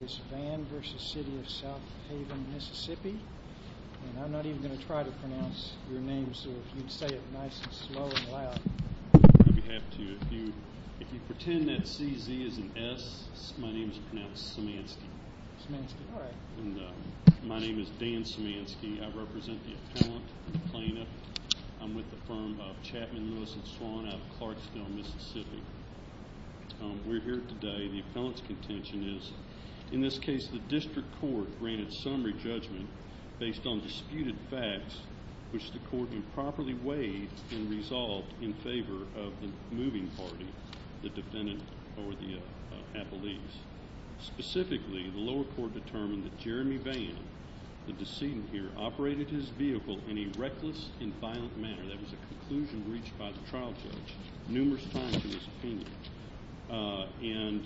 This is Vann v. City of Southaven, Mississippi, and I'm not even going to try to pronounce your name, so if you'd say it nice and slow and loud. I'd be happy to. If you pretend that CZ is an S, my name is pronounced Samanski. Samanski. All right. And my name is Dan Samanski. I represent the appellant and the plaintiff. I'm with the firm of Chapman, Lewis & Swan out of Clarksville, Mississippi. We're here today. The appellant's contention is, in this case, the district court granted summary judgment based on disputed facts, which the court improperly weighed and resolved in favor of the moving party, the defendant or the appellees. Specifically, the lower court determined that Jeremy Vann, the decedent here, operated his vehicle in a reckless and violent manner. That was a conclusion reached by the trial judge numerous times in his opinion. And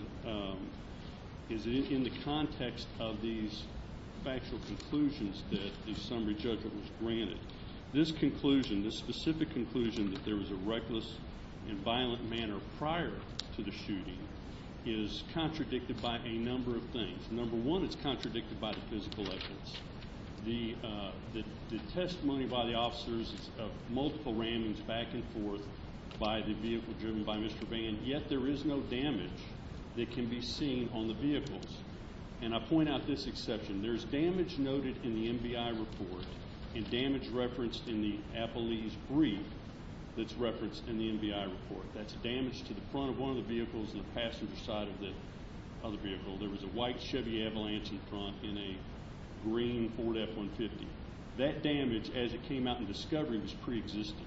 it's in the context of these factual conclusions that the summary judgment was granted. This conclusion, this specific conclusion, that there was a reckless and violent manner prior to the shooting is contradicted by a number of things. Number one, it's contradicted by the physical evidence. The testimony by the officers is of multiple rammings back and forth by the vehicle driven by Mr. Vann, yet there is no damage that can be seen on the vehicles. And I point out this exception. There's damage noted in the MBI report and damage referenced in the appellee's brief that's referenced in the MBI report. That's damage to the front of one of the vehicles and the passenger side of the vehicle. There was a white Chevy Avalanche in front in a green Ford F-150. That damage, as it came out in discovery, was preexistent.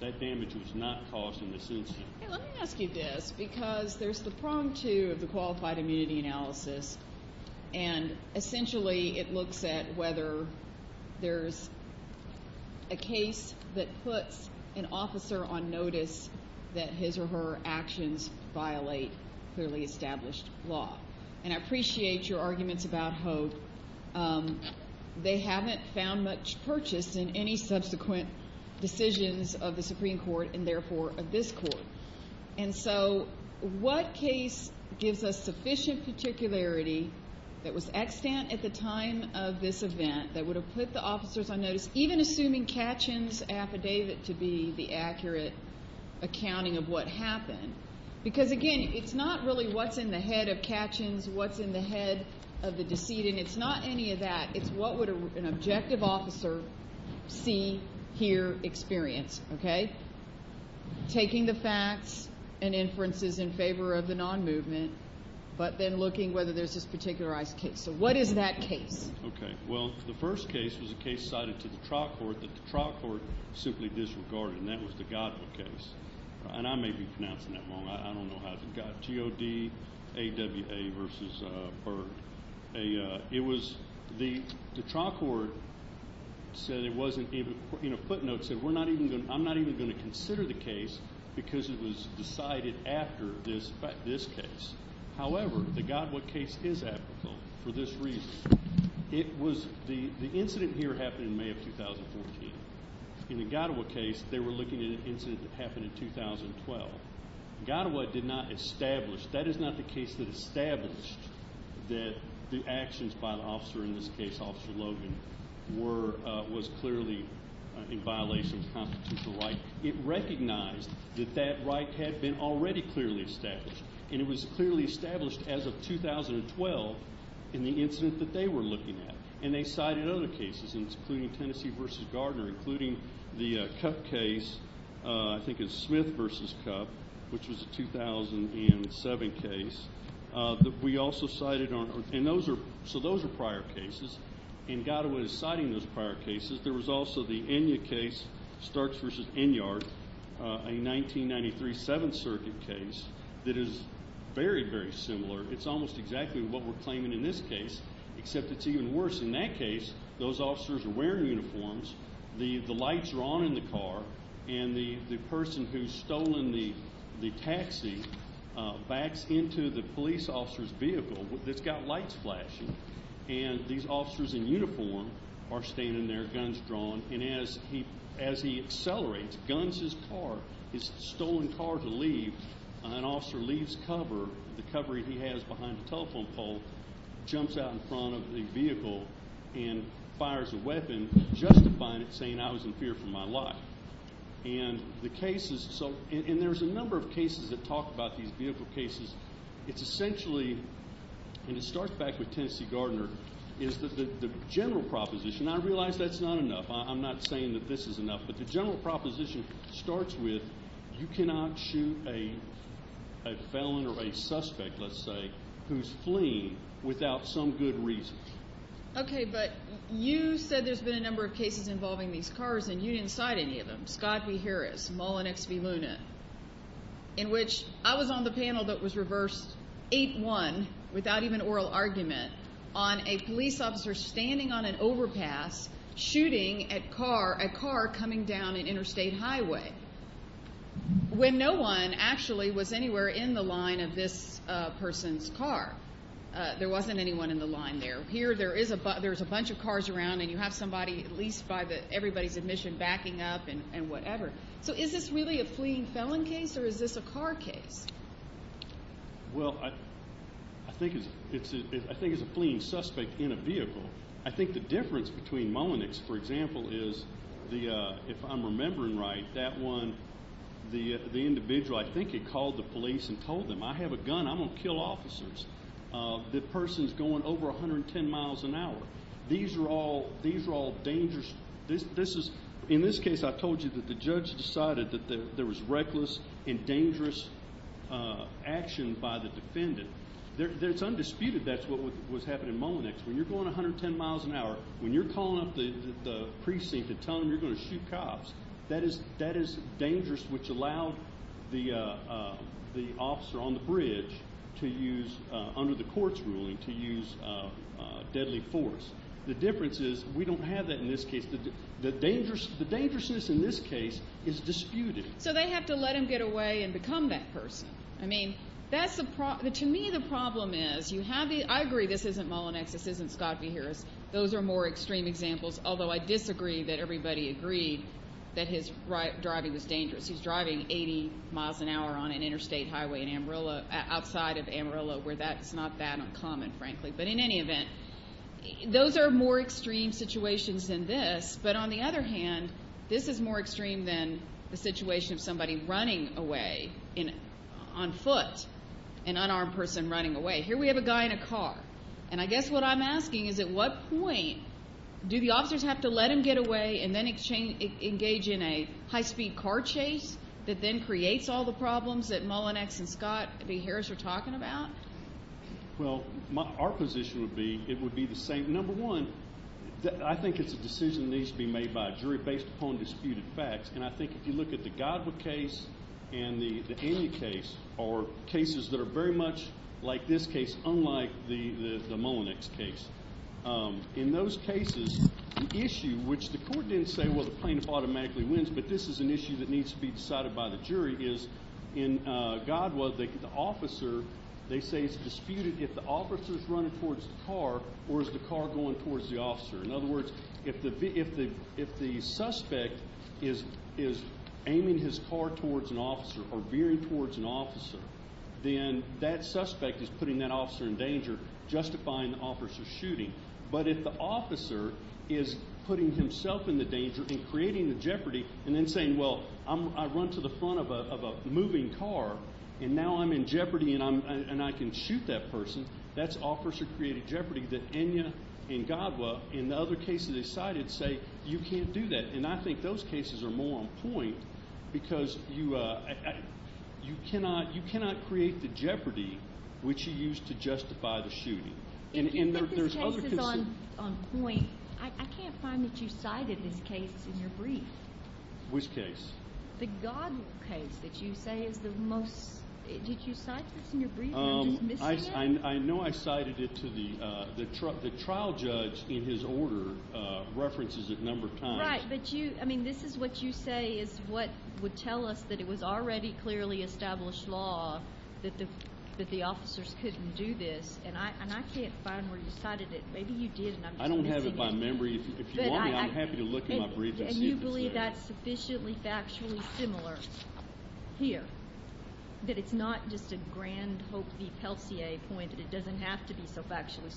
That damage was not caused in this incident. Let me ask you this because there's the prong to the qualified immunity analysis, and essentially it looks at whether there's a case that puts an officer on notice that his or her actions violate clearly established law. And I appreciate your arguments about hope. They haven't found much purchase in any subsequent decisions of the Supreme Court and, therefore, of this Court. And so what case gives us sufficient particularity that was extant at the time of this event that would have put the officers on notice, even assuming Katchen's affidavit to be the accurate accounting of what happened? Because, again, it's not really what's in the head of Katchen's, what's in the head of the decedent. It's not any of that. It's what would an objective officer see, hear, experience, okay? Taking the facts and inferences in favor of the non-movement, but then looking whether there's this particularized case. So what is that case? Okay. Well, the first case was a case cited to the trial court that the trial court simply disregarded, and that was the Goddard case. And I may be pronouncing that wrong. I don't know how it's Goddard. G-O-D-A-W-A versus Berg. It was the trial court said it wasn't even, in a footnote, said, I'm not even going to consider the case because it was decided after this case. However, the Goddard case is applicable for this reason. It was the incident here happened in May of 2014. In the Goddard case, they were looking at an incident that happened in 2012. Goddard did not establish. The case that established that the actions by the officer, in this case Officer Logan, was clearly in violation of the constitutional right, it recognized that that right had been already clearly established. And it was clearly established as of 2012 in the incident that they were looking at. And they cited other cases, including Tennessee v. Gardner, including the Cupp case, I think it was Smith v. Cupp, which was a 2007 case that we also cited. And those are, so those are prior cases. And Goddard was citing those prior cases. There was also the Enya case, Starks v. Enyard, a 1993 Seventh Circuit case that is very, very similar. It's almost exactly what we're claiming in this case, except it's even worse. In that case, those officers are wearing uniforms, the lights are on in the car, and the person who's stolen the taxi backs into the police officer's vehicle that's got lights flashing. And these officers in uniform are standing there, guns drawn. And as he accelerates, guns his car, his stolen car to leave, an officer leaves cover, the cover he has behind the telephone pole, jumps out in front of the vehicle and fires a weapon, justifying it, saying I was in fear for my life. And the cases, so, and there's a number of cases that talk about these vehicle cases. It's essentially, and it starts back with Tennessee Gardner, is that the general proposition, and I realize that's not enough, I'm not saying that this is enough, but the general proposition starts with you cannot shoot a felon or a suspect, let's say, who's fleeing without some good reason. Okay, but you said there's been a number of cases involving these cars, and you didn't cite any of them. Scott v. Harris, Mull and X v. Luna, in which I was on the panel that was reversed 8-1, without even oral argument, on a police officer standing on an overpass, shooting a car coming down an interstate highway, when no one actually was anywhere in the line of this person's car. There wasn't anyone in the line there. Here, there's a bunch of cars around, and you have somebody, at least by everybody's admission, backing up and whatever. So is this really a fleeing felon case, or is this a car case? Well, I think it's a fleeing suspect in a vehicle. I think the difference between Mull and X, for example, is, if I'm remembering right, that one, the individual, I think he called the police and told them, I have a gun, I'm going to kill officers. The person's going over 110 miles an hour. These are all dangerous. In this case, I told you that the judge decided that there was reckless and dangerous action by the defendant. It's undisputed that's what was happening in Mull and X. When you're going 110 miles an hour, when you're calling up the precinct and telling them you're going to shoot cops, that is dangerous, which allowed the officer on the bridge to use, under the court's ruling, to use deadly force. The difference is we don't have that in this case. The dangerousness in this case is disputed. So they have to let him get away and become that person. I mean, to me the problem is you have the – I agree this isn't Mull and X, this isn't Scott v. Harris. Those are more extreme examples, although I disagree that everybody agreed that his driving was dangerous. He's driving 80 miles an hour on an interstate highway in Amarillo, outside of Amarillo, where that's not that uncommon, frankly. But in any event, those are more extreme situations than this. But on the other hand, this is more extreme than the situation of somebody running away on foot, an unarmed person running away. Here we have a guy in a car. And I guess what I'm asking is at what point do the officers have to let him get away and then engage in a high-speed car chase that then creates all the problems that Mull and X and Scott v. Harris are talking about? Well, our position would be it would be the same. Number one, I think it's a decision that needs to be made by a jury based upon disputed facts. And I think if you look at the Godwa case and the Enya case are cases that are very much like this case, unlike the Mull and X case. In those cases, the issue, which the court didn't say, well, the plaintiff automatically wins, but this is an issue that needs to be decided by the jury, is in Godwa, the officer, they say it's disputed if the officer is running towards the car or is the car going towards the officer. In other words, if the suspect is aiming his car towards an officer or veering towards an officer, then that suspect is putting that officer in danger, justifying the officer's shooting. But if the officer is putting himself in the danger and creating the jeopardy and then saying, well, I run to the front of a moving car and now I'm in jeopardy and I can shoot that person, that's officer-created jeopardy that Enya and Godwa, in the other cases they cited, say you can't do that. And I think those cases are more on point because you cannot create the jeopardy, which you use to justify the shooting. If this case is on point, I can't find that you cited this case in your brief. Which case? The Godwa case that you say is the most – did you cite this in your brief? I know I cited it to the trial judge in his order, references a number of times. Right, but this is what you say is what would tell us that it was already clearly established law that the officers couldn't do this, and I can't find where you cited it. Maybe you did, and I'm just missing it. I don't have it by memory. If you want me, I'm happy to look at my brief and see if it's there. Do you believe that's sufficiently factually similar here, that it's not just a grand hope v. Pelletier point, that it doesn't have to be so factually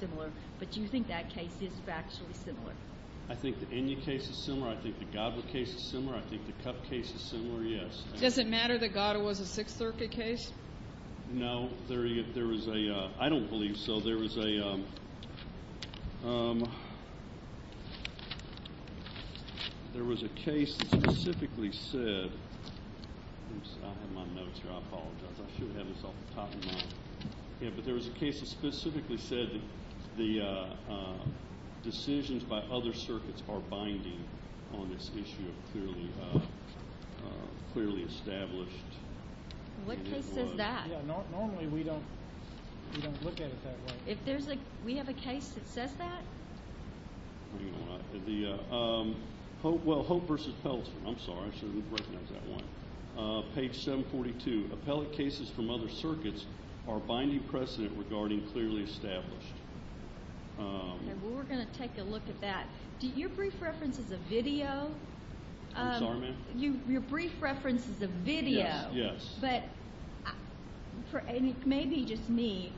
similar, but do you think that case is factually similar? I think the Enya case is similar. I think the Godwa case is similar. I think the Cupp case is similar, yes. Does it matter that Godwa's a Sixth Circuit case? No, there is a – I don't believe so. There was a case that specifically said – I have my notes here. I apologize. I should have this off the top of my head. But there was a case that specifically said the decisions by other circuits are binding on this issue of clearly established law. What case says that? Normally we don't look at it that way. We have a case that says that? Well, Hope v. Pelletier. I'm sorry. I shouldn't have recognized that one. Page 742. Appellate cases from other circuits are binding precedent regarding clearly established. We're going to take a look at that. I'm sorry, ma'am? Your brief reference is a video. Yes, yes. But maybe just me,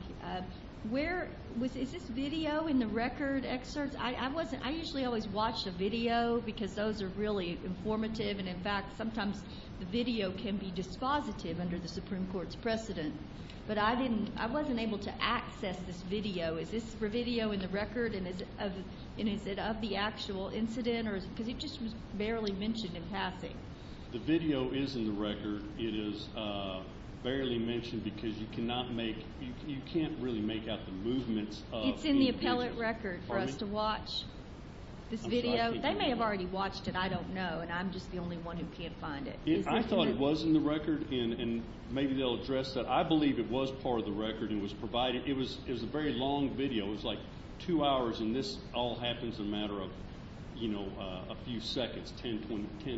where – is this video in the record excerpts? I wasn't – I usually always watch the video because those are really informative. And, in fact, sometimes the video can be dispositive under the Supreme Court's precedent. But I didn't – I wasn't able to access this video. Is this video in the record and is it of the actual incident? Because it just was barely mentioned in passing. The video is in the record. It is barely mentioned because you cannot make – you can't really make out the movements of the – It's in the appellate record for us to watch this video. They may have already watched it. I don't know. And I'm just the only one who can't find it. I thought it was in the record, and maybe they'll address that. I believe it was part of the record and was provided – it was a very long video. It was like two hours, and this all happens in a matter of, you know, a few seconds, 10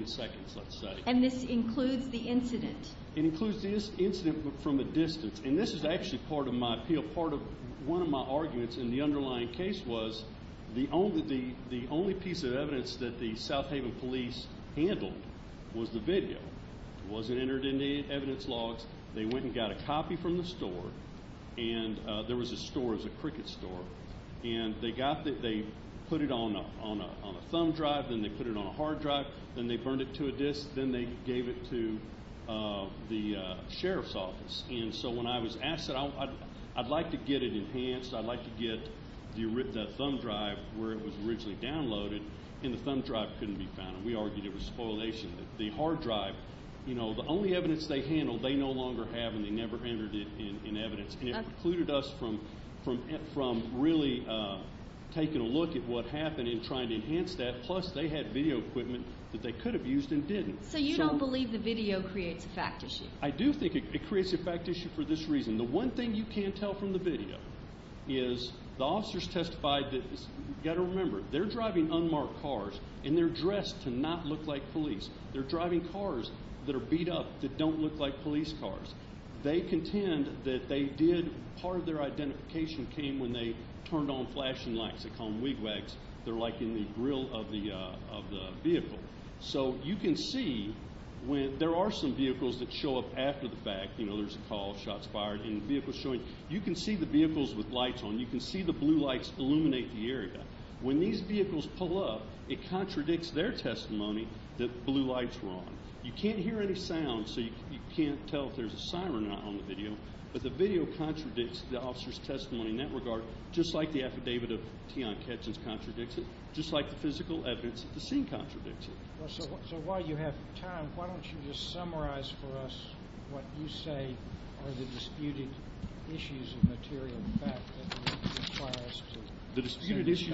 seconds, let's say. And this includes the incident? It includes the incident from a distance. And this is actually part of my – part of one of my arguments in the underlying case was the only – the only piece of evidence that the South Haven police handled was the video. It wasn't entered in the evidence logs. They went and got a copy from the store, and there was a store. It was a cricket store. And they got the – they put it on a thumb drive. Then they put it on a hard drive. Then they burned it to a disc. Then they gave it to the sheriff's office. And so when I was asked, I said, I'd like to get it enhanced. I'd like to get the thumb drive where it was originally downloaded. And the thumb drive couldn't be found. And we argued it was spoilation. The hard drive, you know, the only evidence they handled they no longer have, and they never entered it in evidence. And it precluded us from really taking a look at what happened and trying to enhance that. Plus, they had video equipment that they could have used and didn't. So you don't believe the video creates a fact issue? I do think it creates a fact issue for this reason. The one thing you can tell from the video is the officers testified that – They're driving cars that are beat up that don't look like police cars. They contend that they did – part of their identification came when they turned on flashing lights. They call them wigwags. They're, like, in the grill of the vehicle. So you can see when – there are some vehicles that show up after the fact. You know, there's a call, shots fired, and vehicles showing. You can see the vehicles with lights on. You can see the blue lights illuminate the area. When these vehicles pull up, it contradicts their testimony that blue lights were on. You can't hear any sound, so you can't tell if there's a siren or not on the video. But the video contradicts the officers' testimony in that regard, just like the affidavit of Tian Ketchen's contradicts it, just like the physical evidence of the scene contradicts it. So while you have time, why don't you just summarize for us what you say The disputed issues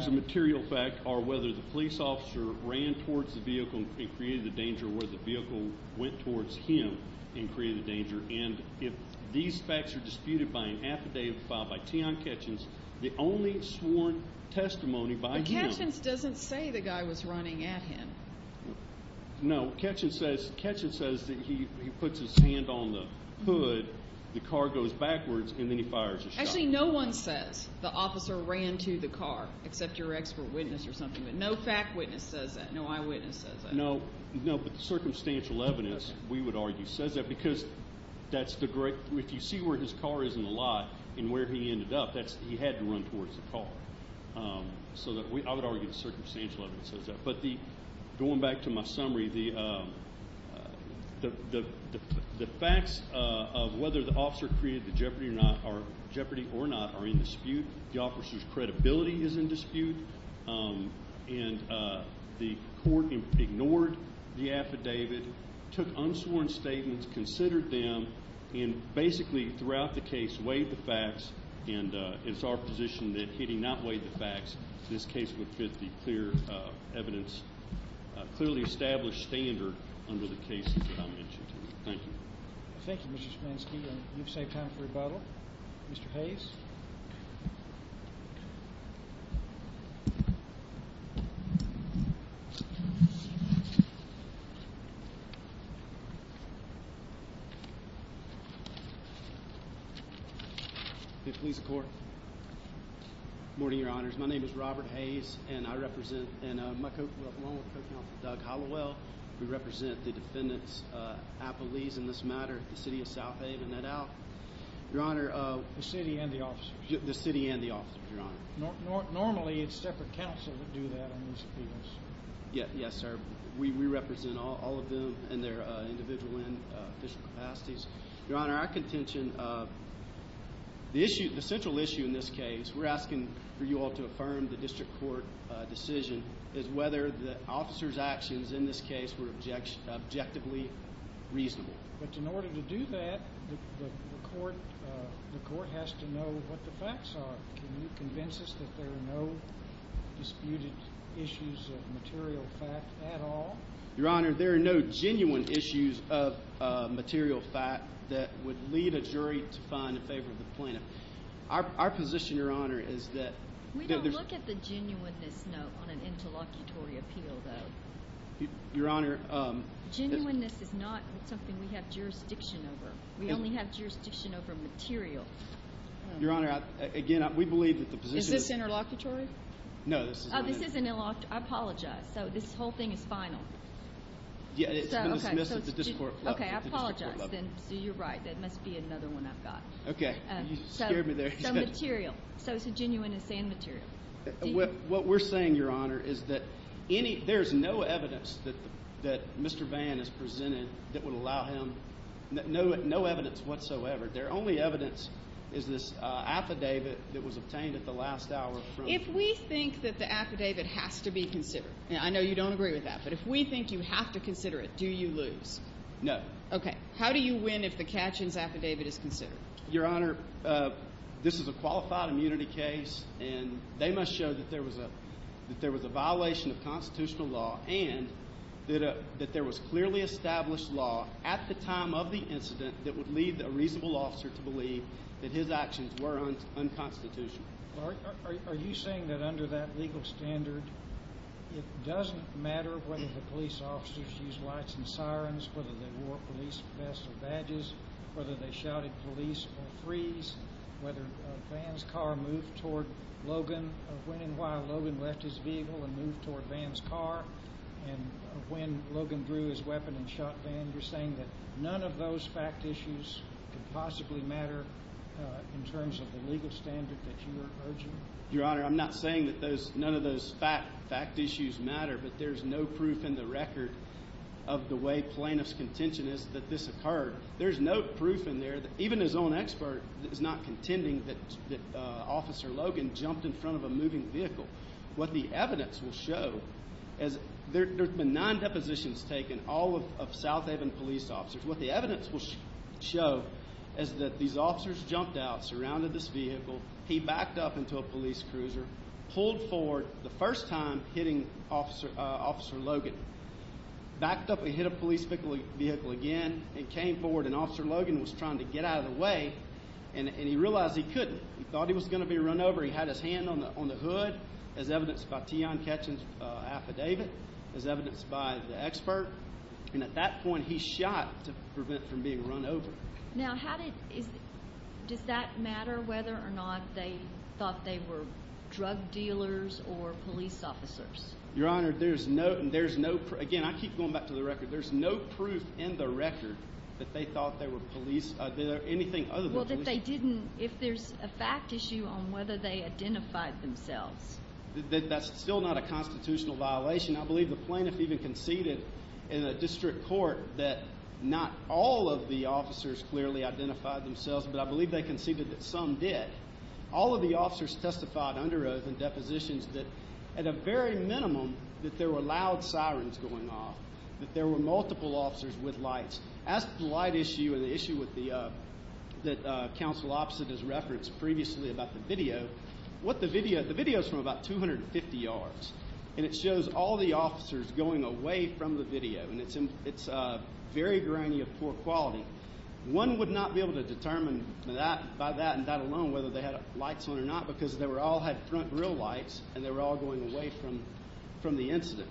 of material fact are whether the police officer ran towards the vehicle and created the danger or whether the vehicle went towards him and created the danger. And if these facts are disputed by an affidavit filed by Tian Ketchen's, the only sworn testimony by him – But Ketchen's doesn't say the guy was running at him. No, Ketchen says that he puts his hand on the hood, the car goes backwards, and then he fires a shot. Actually, no one says the officer ran to the car except your expert witness or something, but no fact witness says that, no eyewitness says that. No, but the circumstantial evidence, we would argue, says that because that's the great – if you see where his car is in the lot and where he ended up, he had to run towards the car. So I would argue the circumstantial evidence says that. Going back to my summary, the facts of whether the officer created the jeopardy or not are in dispute. The officer's credibility is in dispute, and the court ignored the affidavit, took unsworn statements, considered them, and basically throughout the case weighed the facts, and it's our position that if he did not weigh the facts, this case would fit the clear evidence, clearly established standard under the cases that I mentioned. Thank you. Thank you, Mr. Schmanzke. You've saved time for rebuttal. Mr. Hayes. Good morning, Your Honors. My name is Robert Hayes, and I represent – and along with Co-Counsel Doug Hollowell, we represent the defendants' affilies in this matter, the City of South Haven et al. Your Honor – The city and the officers. The city and the officers, Your Honor. Normally, it's separate counsel that do that on these appeals. Yes, sir. We represent all of them in their individual and official capacities. Your Honor, our contention – the central issue in this case, we're asking for you all to affirm the district court decision, is whether the officers' actions in this case were objectively reasonable. But in order to do that, the court has to know what the facts are. Can you convince us that there are no disputed issues of material fact at all? Your Honor, there are no genuine issues of material fact that would lead a jury to find in favor of the plaintiff. Our position, Your Honor, is that – We don't look at the genuineness note on an interlocutory appeal, though. Your Honor – Genuineness is not something we have jurisdiction over. We only have jurisdiction over material. Your Honor, again, we believe that the position – Is this interlocutory? No, this is not interlocutory. Oh, this isn't interlocutory. I apologize. So this whole thing is final? Yeah, it's been dismissed at the district court level. Okay, I apologize. So you're right. That must be another one I've got. Okay. You scared me there. So material. So it's a genuine and sane material. What we're saying, Your Honor, is that there's no evidence that Mr. Vann has presented that would allow him – no evidence whatsoever. Their only evidence is this affidavit that was obtained at the last hour from – If we think that the affidavit has to be considered, and I know you don't agree with that, but if we think you have to consider it, do you lose? No. Okay. How do you win if the Katchen's affidavit is considered? Your Honor, this is a qualified immunity case, and they must show that there was a violation of constitutional law and that there was clearly established law at the time of the incident that would lead a reasonable officer to believe that his actions were unconstitutional. Are you saying that under that legal standard, it doesn't matter whether the police officers used lights and sirens, whether they wore police vests or badges, whether they shouted police or freeze, whether Vann's car moved toward Logan, when and why Logan left his vehicle and moved toward Vann's car, and when Logan drew his weapon and shot Vann? You're saying that none of those fact issues could possibly matter in terms of the legal standard that you are urging? Your Honor, I'm not saying that none of those fact issues matter, but there's no proof in the record of the way plaintiff's contention is that this occurred. There's no proof in there. Even his own expert is not contending that Officer Logan jumped in front of a moving vehicle. What the evidence will show is there have been nine depositions taken, all of South Haven police officers. What the evidence will show is that these officers jumped out, surrounded this vehicle, he backed up into a police cruiser, pulled forward the first time hitting Officer Logan, backed up and hit a police vehicle again, and came forward, and Officer Logan was trying to get out of the way, and he realized he couldn't. He thought he was going to be run over. He had his hand on the hood, as evidenced by Tion Ketcham's affidavit, as evidenced by the expert, and at that point he shot to prevent from being run over. Now, does that matter whether or not they thought they were drug dealers or police officers? Your Honor, there's no proof. Again, I keep going back to the record. There's no proof in the record that they thought they were police or anything other than police. Well, if there's a fact issue on whether they identified themselves. That's still not a constitutional violation. I believe the plaintiff even conceded in a district court that not all of the officers clearly identified themselves, but I believe they conceded that some did. All of the officers testified under oath in depositions that, at a very minimum, that there were loud sirens going off, that there were multiple officers with lights. As to the light issue and the issue that Counsel Opposite has referenced previously about the video, the video is from about 250 yards, and it shows all the officers going away from the video, and it's very grainy of poor quality. One would not be able to determine by that and that alone whether they had lights on or not because they all had front grill lights and they were all going away from the incident.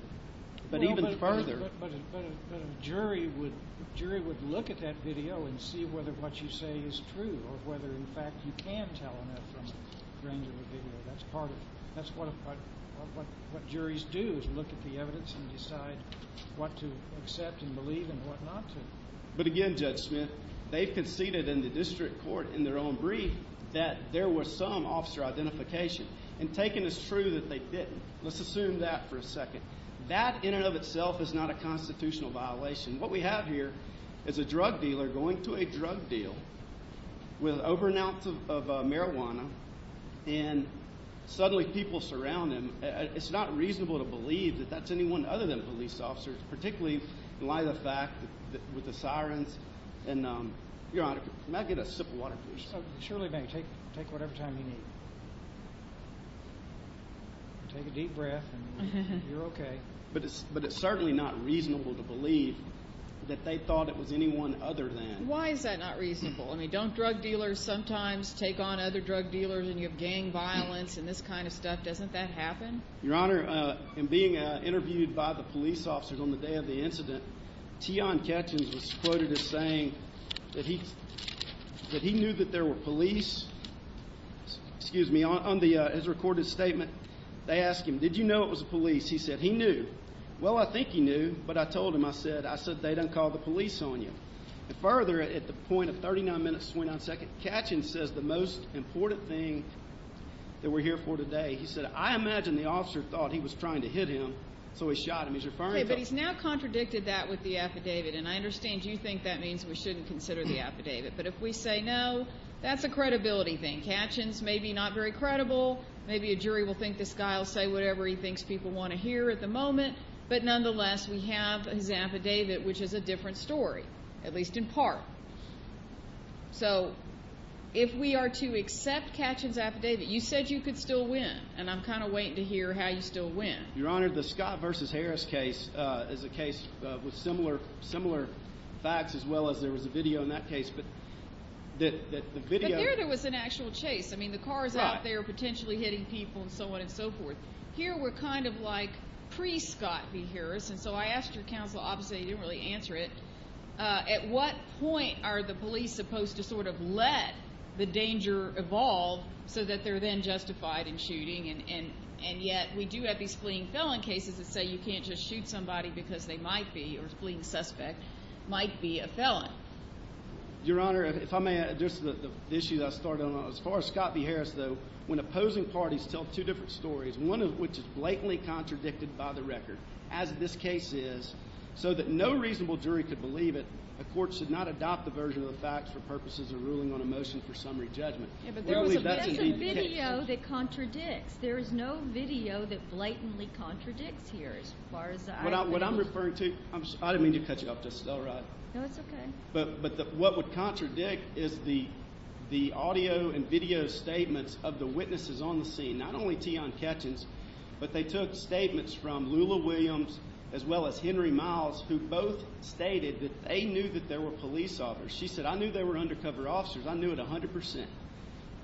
But even further— But a jury would look at that video and see whether what you say is true or whether, in fact, you can tell enough from a grainy of a video. That's what juries do is look at the evidence and decide what to accept and believe and what not to. But again, Judge Smith, they've conceded in the district court in their own brief that there was some officer identification, and taken as true that they didn't. Let's assume that for a second. That in and of itself is not a constitutional violation. What we have here is a drug dealer going to a drug deal with over an ounce of marijuana, and suddenly people surround him. It's not reasonable to believe that that's anyone other than police officers, particularly in light of the fact that with the sirens and— Your Honor, may I get a sip of water, please? Surely, ma'am, take whatever time you need. Take a deep breath, and you're okay. But it's certainly not reasonable to believe that they thought it was anyone other than. Why is that not reasonable? I mean, don't drug dealers sometimes take on other drug dealers, and you have gang violence and this kind of stuff? Doesn't that happen? Your Honor, in being interviewed by the police officers on the day of the incident, Tian Ketchens was quoted as saying that he knew that there were police. Excuse me, on his recorded statement, they asked him, did you know it was the police? He said he knew. Well, I think he knew, but I told him, I said, they done called the police on you. And further, at the point of 39 minutes to 29 seconds, Ketchens says the most important thing that we're here for today, he said, I imagine the officer thought he was trying to hit him, so he shot him. He's referring to— Okay, but he's now contradicted that with the affidavit, and I understand you think that means we shouldn't consider the affidavit. But if we say no, that's a credibility thing. Ketchens may be not very credible. Maybe a jury will think this guy will say whatever he thinks people want to hear at the moment. But nonetheless, we have his affidavit, which is a different story, at least in part. So if we are to accept Ketchens' affidavit, you said you could still win, and I'm kind of waiting to hear how you still win. Your Honor, the Scott v. Harris case is a case with similar facts, as well as there was a video in that case, but the video— But there was an actual chase. I mean, the car is out there potentially hitting people and so on and so forth. Here we're kind of like pre-Scott v. Harris, and so I asked your counsel—obviously, he didn't really answer it. At what point are the police supposed to sort of let the danger evolve so that they're then justified in shooting, and yet we do have these fleeing felon cases that say you can't just shoot somebody because they might be—or a fleeing suspect might be a felon. Your Honor, if I may address the issue that I started on. As far as Scott v. Harris, though, when opposing parties tell two different stories, one of which is blatantly contradicted by the record, as this case is, so that no reasonable jury could believe it, a court should not adopt the version of the facts for purposes of ruling on a motion for summary judgment. Yeah, but that's a video that contradicts. There is no video that blatantly contradicts here, as far as I— What I'm referring to—I didn't mean to cut you off just now, right? No, it's okay. But what would contradict is the audio and video statements of the witnesses on the scene, not only Tian Ketchens, but they took statements from Lula Williams as well as Henry Miles, who both stated that they knew that there were police officers. She said, I knew there were undercover officers. I knew it 100 percent.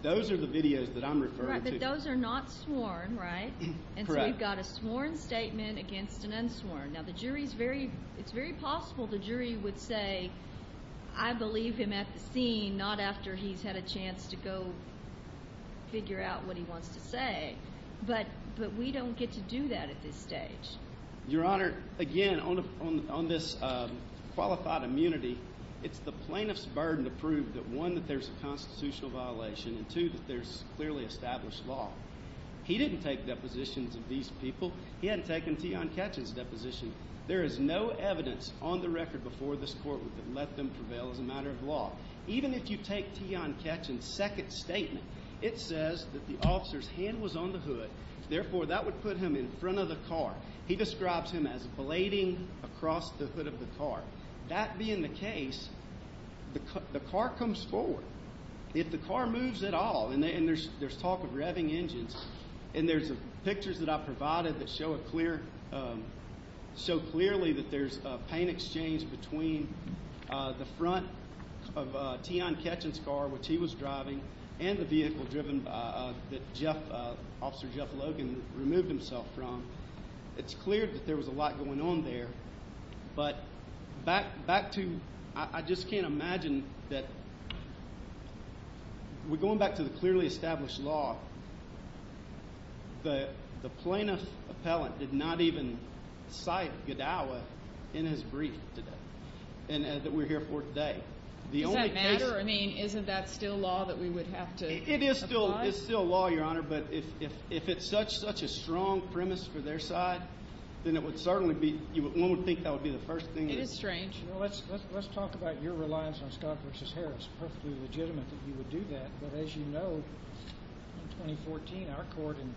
Those are the videos that I'm referring to. Right, but those are not sworn, right? Correct. And so we've got a sworn statement against an unsworn. Now, the jury's very—it's very possible the jury would say, I believe him at the scene, not after he's had a chance to go figure out what he wants to say, but we don't get to do that at this stage. Your Honor, again, on this qualified immunity, it's the plaintiff's burden to prove that, one, that there's a constitutional violation, and, two, that there's clearly established law. He didn't take depositions of these people. He hadn't taken Tian Ketchens' deposition. There is no evidence on the record before this court that let them prevail as a matter of law. Even if you take Tian Ketchens' second statement, it says that the officer's hand was on the hood. Therefore, that would put him in front of the car. He describes him as blading across the hood of the car. That being the case, the car comes forward. If the car moves at all, and there's talk of revving engines, and there's pictures that I provided that show clearly that there's a pain exchange between the front of Tian Ketchens' car, which he was driving, and the vehicle driven that Officer Jeff Logan removed himself from, it's clear that there was a lot going on there. But back to I just can't imagine that we're going back to the clearly established law. The plaintiff appellant did not even cite Gadawa in his brief today that we're here for today. Does that matter? I mean, isn't that still law that we would have to abide? It is still law, Your Honor, but if it's such a strong premise for their side, then it would certainly be—one would think that would be the first thing. It is strange. Let's talk about your reliance on Scott v. Harris. It's perfectly legitimate that you would do that, but as you know, in 2014, our court in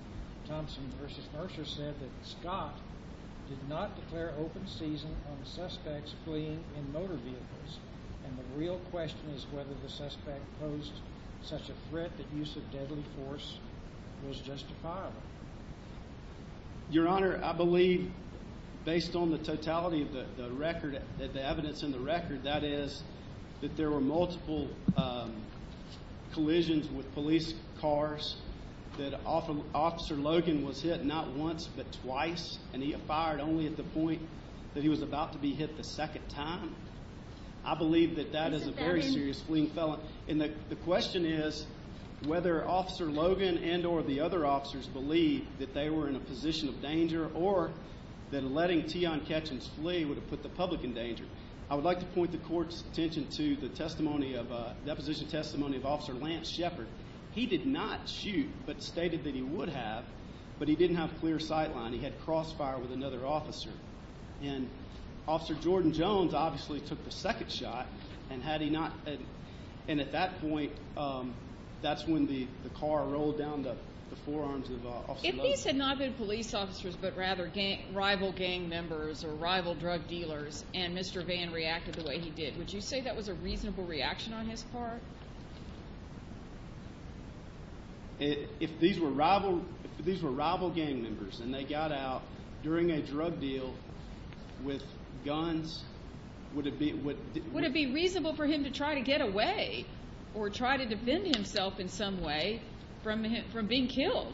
Thompson v. Mercer said that Scott did not declare open season on the suspects fleeing in motor vehicles, and the real question is whether the suspect posed such a threat that use of deadly force was justifiable. Your Honor, I believe based on the totality of the record, the evidence in the record, that is that there were multiple collisions with police cars, that Officer Logan was hit not once but twice, and he fired only at the point that he was about to be hit the second time. I believe that that is a very serious fleeing felon. And the question is whether Officer Logan and or the other officers believe that they were in a position of danger or that letting Tian Ketchens flee would have put the public in danger. I would like to point the court's attention to the testimony of— deposition testimony of Officer Lance Shepard. He did not shoot but stated that he would have, but he didn't have clear sightline. He had crossfire with another officer. And Officer Jordan Jones obviously took the second shot, and at that point, that's when the car rolled down the forearms of Officer Logan. If these had not been police officers but rather rival gang members or rival drug dealers and Mr. Vann reacted the way he did, would you say that was a reasonable reaction on his part? If these were rival gang members and they got out during a drug deal with guns, would it be— Would it be reasonable for him to try to get away or try to defend himself in some way from being killed?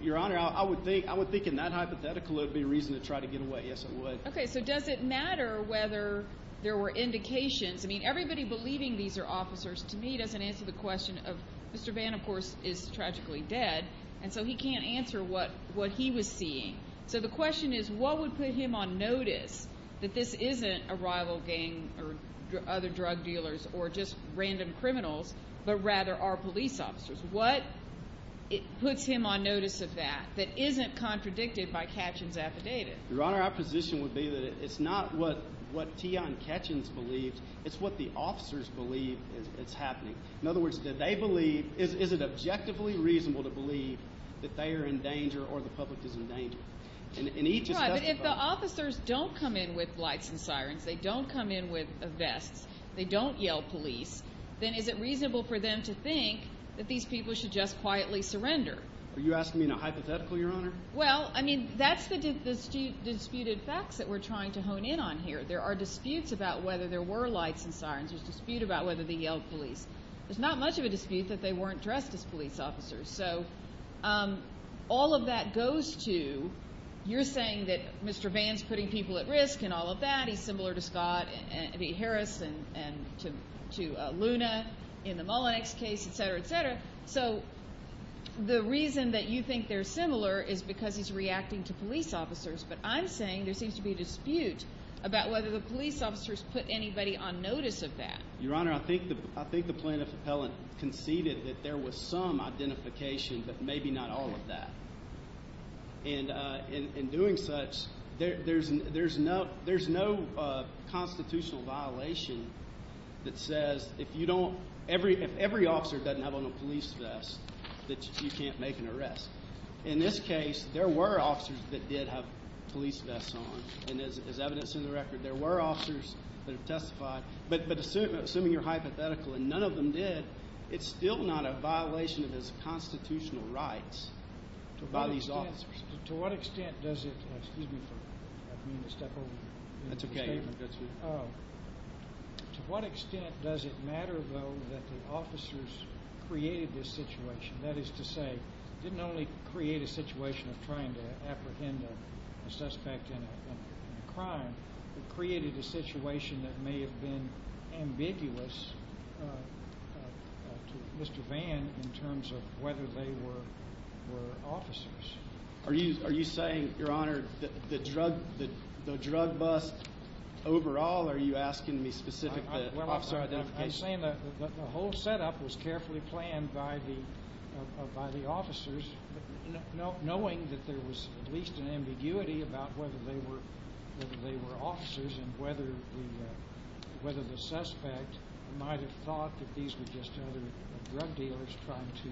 Your Honor, I would think in that hypothetical it would be reasonable to try to get away. Yes, it would. Okay, so does it matter whether there were indications? I mean, everybody believing these are officers to me doesn't answer the question of— Mr. Vann, of course, is tragically dead, and so he can't answer what he was seeing. So the question is what would put him on notice that this isn't a rival gang or other drug dealers or just random criminals but rather are police officers? What puts him on notice of that that isn't contradicted by Ketchen's affidavit? Your Honor, our position would be that it's not what Tian Ketchens believed. It's what the officers believe is happening. In other words, do they believe— Is it objectively reasonable to believe that they are in danger or the public is in danger? In each— But if the officers don't come in with lights and sirens, they don't come in with vests, they don't yell police, then is it reasonable for them to think that these people should just quietly surrender? Are you asking me in a hypothetical, Your Honor? Well, I mean, that's the disputed facts that we're trying to hone in on here. There are disputes about whether there were lights and sirens. There's a dispute about whether they yelled police. There's not much of a dispute that they weren't dressed as police officers. So all of that goes to, you're saying that Mr. Vann's putting people at risk and all of that. He's similar to Scott Harris and to Luna in the Mullinex case, et cetera, et cetera. So the reason that you think they're similar is because he's reacting to police officers. But I'm saying there seems to be a dispute about whether the police officers put anybody on notice of that. Your Honor, I think the plaintiff's appellant conceded that there was some identification but maybe not all of that. And in doing such, there's no constitutional violation that says if you don't, if every officer doesn't have on a police vest that you can't make an arrest. In this case, there were officers that did have police vests on. And as evidence in the record, there were officers that testified. But assuming you're hypothetical and none of them did, it's still not a violation of his constitutional rights by these officers. To what extent does it matter, though, that the officers created this situation? That is to say, it didn't only create a situation of trying to apprehend a suspect in a crime. It created a situation that may have been ambiguous to Mr. Vann in terms of whether they were officers. Are you saying, Your Honor, that the drug bust overall or are you asking me specifically officer identification? I'm saying that the whole setup was carefully planned by the officers, knowing that there was at least an ambiguity about whether they were officers and whether the suspect might have thought that these were just other drug dealers trying to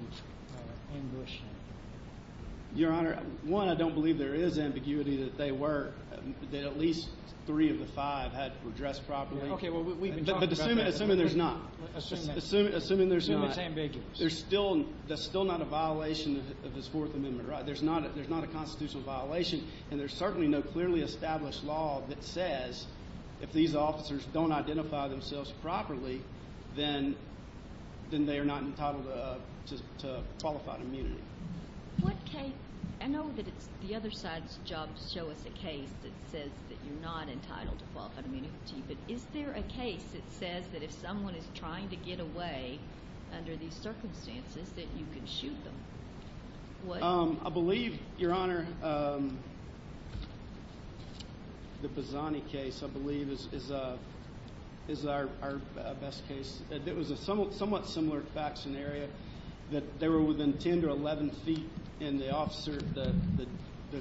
ambush him. Your Honor, one, I don't believe there is ambiguity that they were, that at least three of the five were dressed properly. Okay, well, we've been talking about that. Assuming there's not. Assuming it's ambiguous. There's still not a violation of this Fourth Amendment, right? There's not a constitutional violation, and there's certainly no clearly established law that says if these officers don't identify themselves properly, then they are not entitled to qualified immunity. I know that it's the other side's job to show us a case that says that you're not entitled to qualified immunity, but is there a case that says that if someone is trying to get away under these circumstances that you can shoot them? I believe, Your Honor, the Bazzani case, I believe, is our best case. It was a somewhat similar fact scenario, that they were within 10 to 11 feet, and the officer, the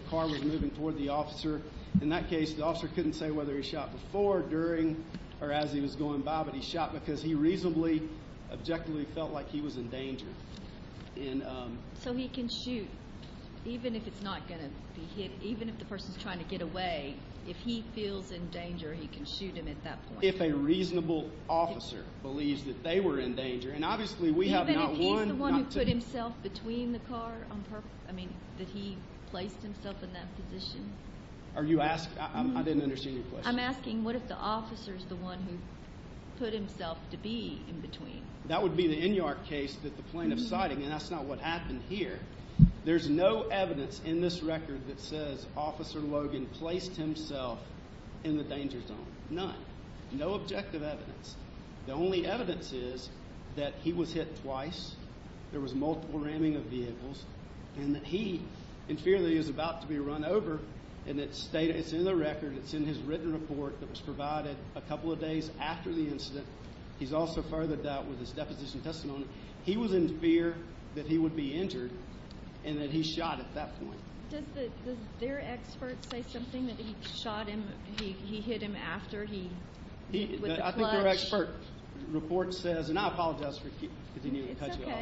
car was moving toward the officer. In that case, the officer couldn't say whether he shot before, during, or as he was going by, but he shot because he reasonably, objectively felt like he was in danger. So he can shoot even if it's not going to be hit, even if the person's trying to get away? If he feels in danger, he can shoot him at that point? If a reasonable officer believes that they were in danger, and obviously we have not won. What if the one who put himself between the car on purpose, I mean, that he placed himself in that position? Are you asking? I didn't understand your question. I'm asking what if the officer's the one who put himself to be in between? That would be the Inyart case that the plaintiff's citing, and that's not what happened here. There's no evidence in this record that says Officer Logan placed himself in the danger zone. None. No objective evidence. The only evidence is that he was hit twice, there was multiple ramming of vehicles, and that he, in fear that he was about to be run over, and it's in the record, it's in his written report that was provided a couple of days after the incident. He's also furthered that with his deposition testimony. He was in fear that he would be injured and that he shot at that point. Does their expert say something that he shot him, he hit him after he hit with the clutch? I think their expert report says, and I apologize for continuing to cut you off.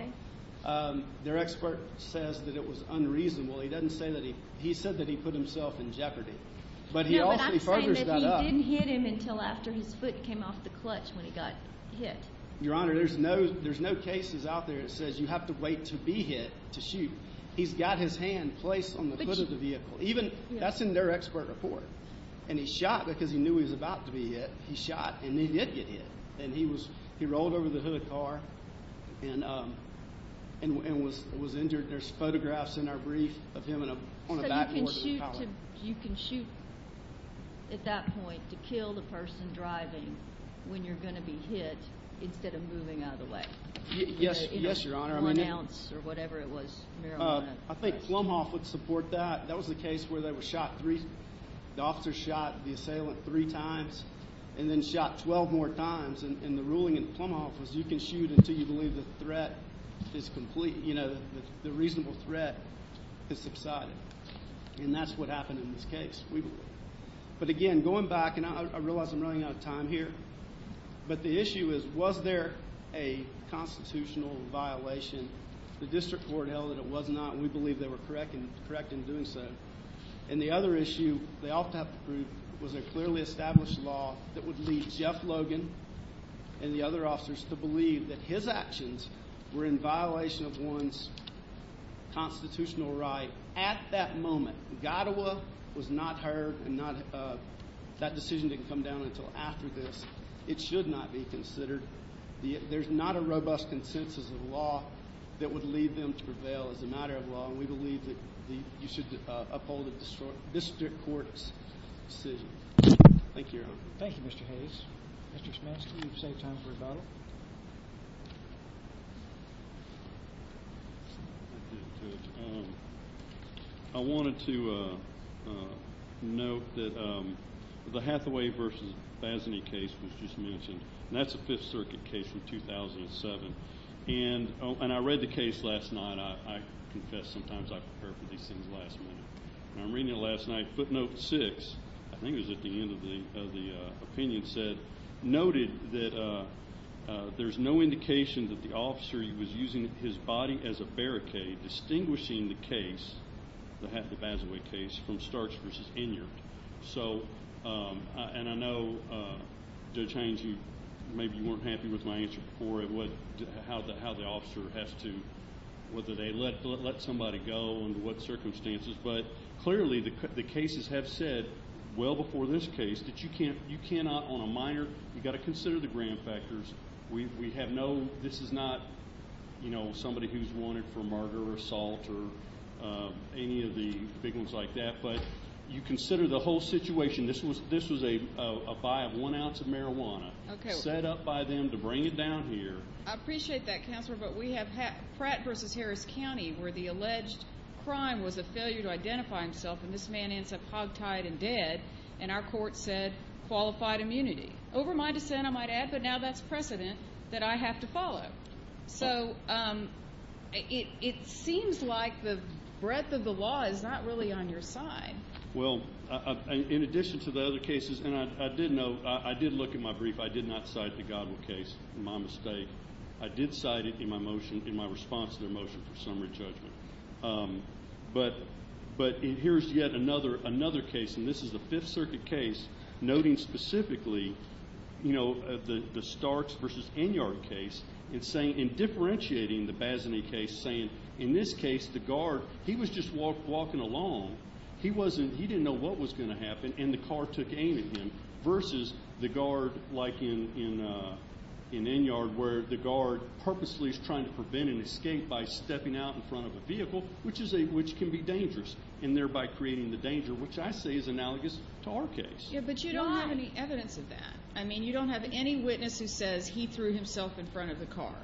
It's okay. Their expert says that it was unreasonable. He doesn't say that he, he said that he put himself in jeopardy, but he also furthers that up. No, but I'm saying that he didn't hit him until after his foot came off the clutch when he got hit. Your Honor, there's no cases out there that says you have to wait to be hit to shoot. He's got his hand placed on the hood of the vehicle. That's in their expert report. And he shot because he knew he was about to be hit. He shot, and he did get hit. And he rolled over the hood of the car and was injured. There's photographs in our brief of him on a backboard. So you can shoot at that point to kill the person driving when you're going to be hit instead of moving out of the way? Yes, Your Honor. I think Plumhoff would support that. That was the case where the officer shot the assailant three times and then shot 12 more times. And the ruling in Plumhoff was you can shoot until you believe the threat is complete, you know, the reasonable threat has subsided. And that's what happened in this case. But, again, going back, and I realize I'm running out of time here, but the issue is was there a constitutional violation? The district court held that it was not, and we believe they were correct in doing so. And the other issue they also have to prove was a clearly established law that would lead Jeff Logan and the other officers to believe that his actions were in violation of one's constitutional right at that moment. And Godowa was not heard, and that decision didn't come down until after this. It should not be considered. There's not a robust consensus of law that would lead them to prevail as a matter of law, and we believe that you should uphold the district court's decision. Thank you, Your Honor. Thank you, Mr. Hayes. Mr. Schmitz, can you save time for rebuttal? Sure. I wanted to note that the Hathaway v. Bazany case was just mentioned, and that's a Fifth Circuit case from 2007. And I read the case last night. I confess sometimes I prepare for these things last minute. I'm reading it last night. Footnote 6, I think it was at the end of the opinion, noted that there's no indication that the officer was using his body as a barricade, distinguishing the case, the Hathaway v. Bazany case, from Starks v. Inyart. And I know, Judge Haynes, maybe you weren't happy with my answer before how the officer has to, whether they let somebody go under what circumstances, but clearly the cases have said well before this case that you cannot on a minor, you've got to consider the grand factors. We have no, this is not somebody who's wanted for murder or assault or any of the big ones like that, but you consider the whole situation. This was a buy of one ounce of marijuana set up by them to bring it down here. I appreciate that, Counselor, but we have Pratt v. Harris County where the alleged crime was a failure to identify himself, and this man ends up hogtied and dead, and our court said qualified immunity. Over my dissent, I might add, but now that's precedent that I have to follow. So it seems like the breadth of the law is not really on your side. Well, in addition to the other cases, and I did note, I did look at my brief. I did not cite the Godwin case, my mistake. I did cite it in my motion, in my response to their motion for summary judgment. But here's yet another case, and this is the Fifth Circuit case, noting specifically, you know, the Starks v. Inyart case and differentiating the Bazany case, saying in this case the guard, he was just walking along. He didn't know what was going to happen, and the car took aim at him, versus the guard like in Inyart where the guard purposely is trying to prevent an escape by stepping out in front of a vehicle, which can be dangerous, and thereby creating the danger, which I say is analogous to our case. Yeah, but you don't have any evidence of that. I mean, you don't have any witness who says he threw himself in front of the car.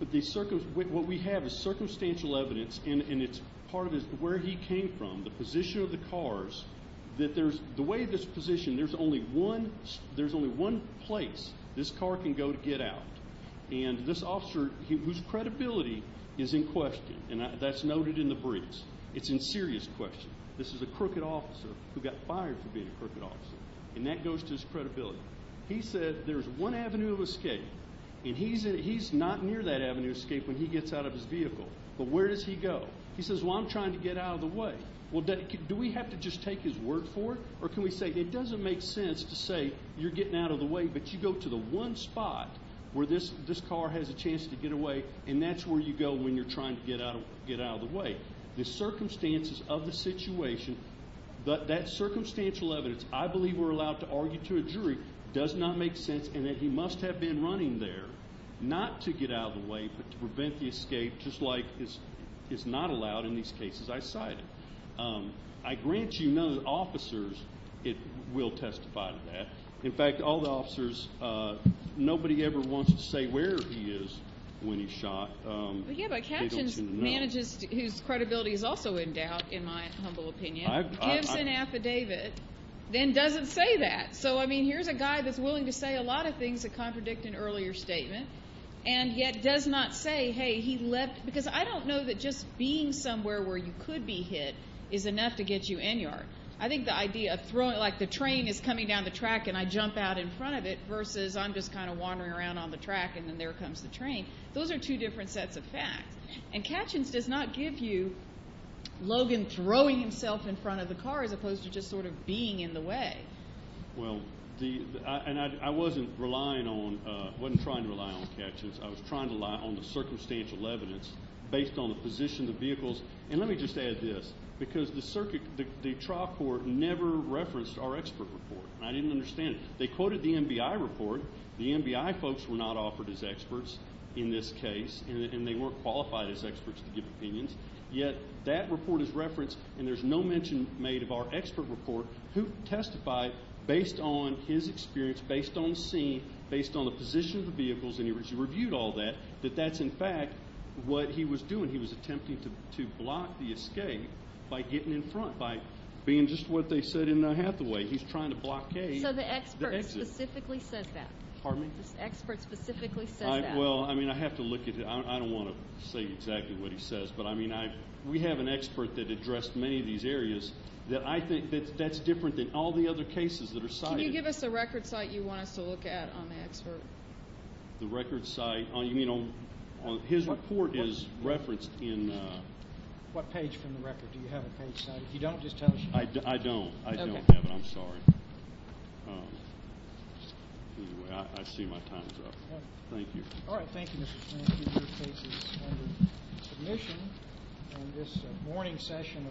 What we have is circumstantial evidence, and it's part of where he came from, the position of the cars, that the way this position, there's only one place this car can go to get out. And this officer, whose credibility is in question, and that's noted in the briefs, it's in serious question. This is a crooked officer who got fired for being a crooked officer, and that goes to his credibility. He said there's one avenue of escape, and he's not near that avenue of escape when he gets out of his vehicle. But where does he go? He says, well, I'm trying to get out of the way. Well, do we have to just take his word for it, or can we say it doesn't make sense to say you're getting out of the way, but you go to the one spot where this car has a chance to get away, and that's where you go when you're trying to get out of the way. The circumstances of the situation, that circumstantial evidence, I believe we're allowed to argue to a jury, does not make sense in that he must have been running there not to get out of the way but to prevent the escape, just like is not allowed in these cases I cited. I grant you none of the officers will testify to that. In fact, all the officers, nobody ever wants to say where he is when he's shot. But, yeah, by captions, manages, whose credibility is also in doubt, in my humble opinion, gives an affidavit, then doesn't say that. So, I mean, here's a guy that's willing to say a lot of things that contradict an earlier statement and yet does not say, hey, he left, because I don't know that just being somewhere where you could be hit is enough to get you in yard. I think the idea of throwing, like the train is coming down the track and I jump out in front of it versus I'm just kind of wandering around on the track and then there comes the train. Those are two different sets of facts. And captions does not give you Logan throwing himself in front of the car as opposed to just sort of being in the way. Well, and I wasn't relying on, wasn't trying to rely on captions. I was trying to rely on the circumstantial evidence based on the position of the vehicles. And let me just add this, because the circuit, the trial court never referenced our expert report, and I didn't understand it. They quoted the MBI report. The MBI folks were not offered as experts in this case, and they weren't qualified as experts to give opinions. Yet that report is referenced, and there's no mention made of our expert report who testified based on his experience, based on the scene, based on the position of the vehicles, and he reviewed all that, that that's, in fact, what he was doing. He was attempting to block the escape by getting in front, by being just what they said in Hathaway. He's trying to blockade. So the expert specifically says that? Pardon me? The expert specifically says that? Well, I mean, I have to look at it. I don't want to say exactly what he says, but, I mean, we have an expert that addressed many of these areas that I think that's different than all the other cases that are cited. Can you give us the record site you want us to look at on the expert? The record site? You mean on his report is referenced in? What page from the record? Do you have a page cited? If you don't, just tell us. I don't. I don't have it. I'm sorry. Anyway, I see my time is up. Thank you. All right. Thank you, Mr. Tran. Thank you. Your case is under submission. And this morning's session.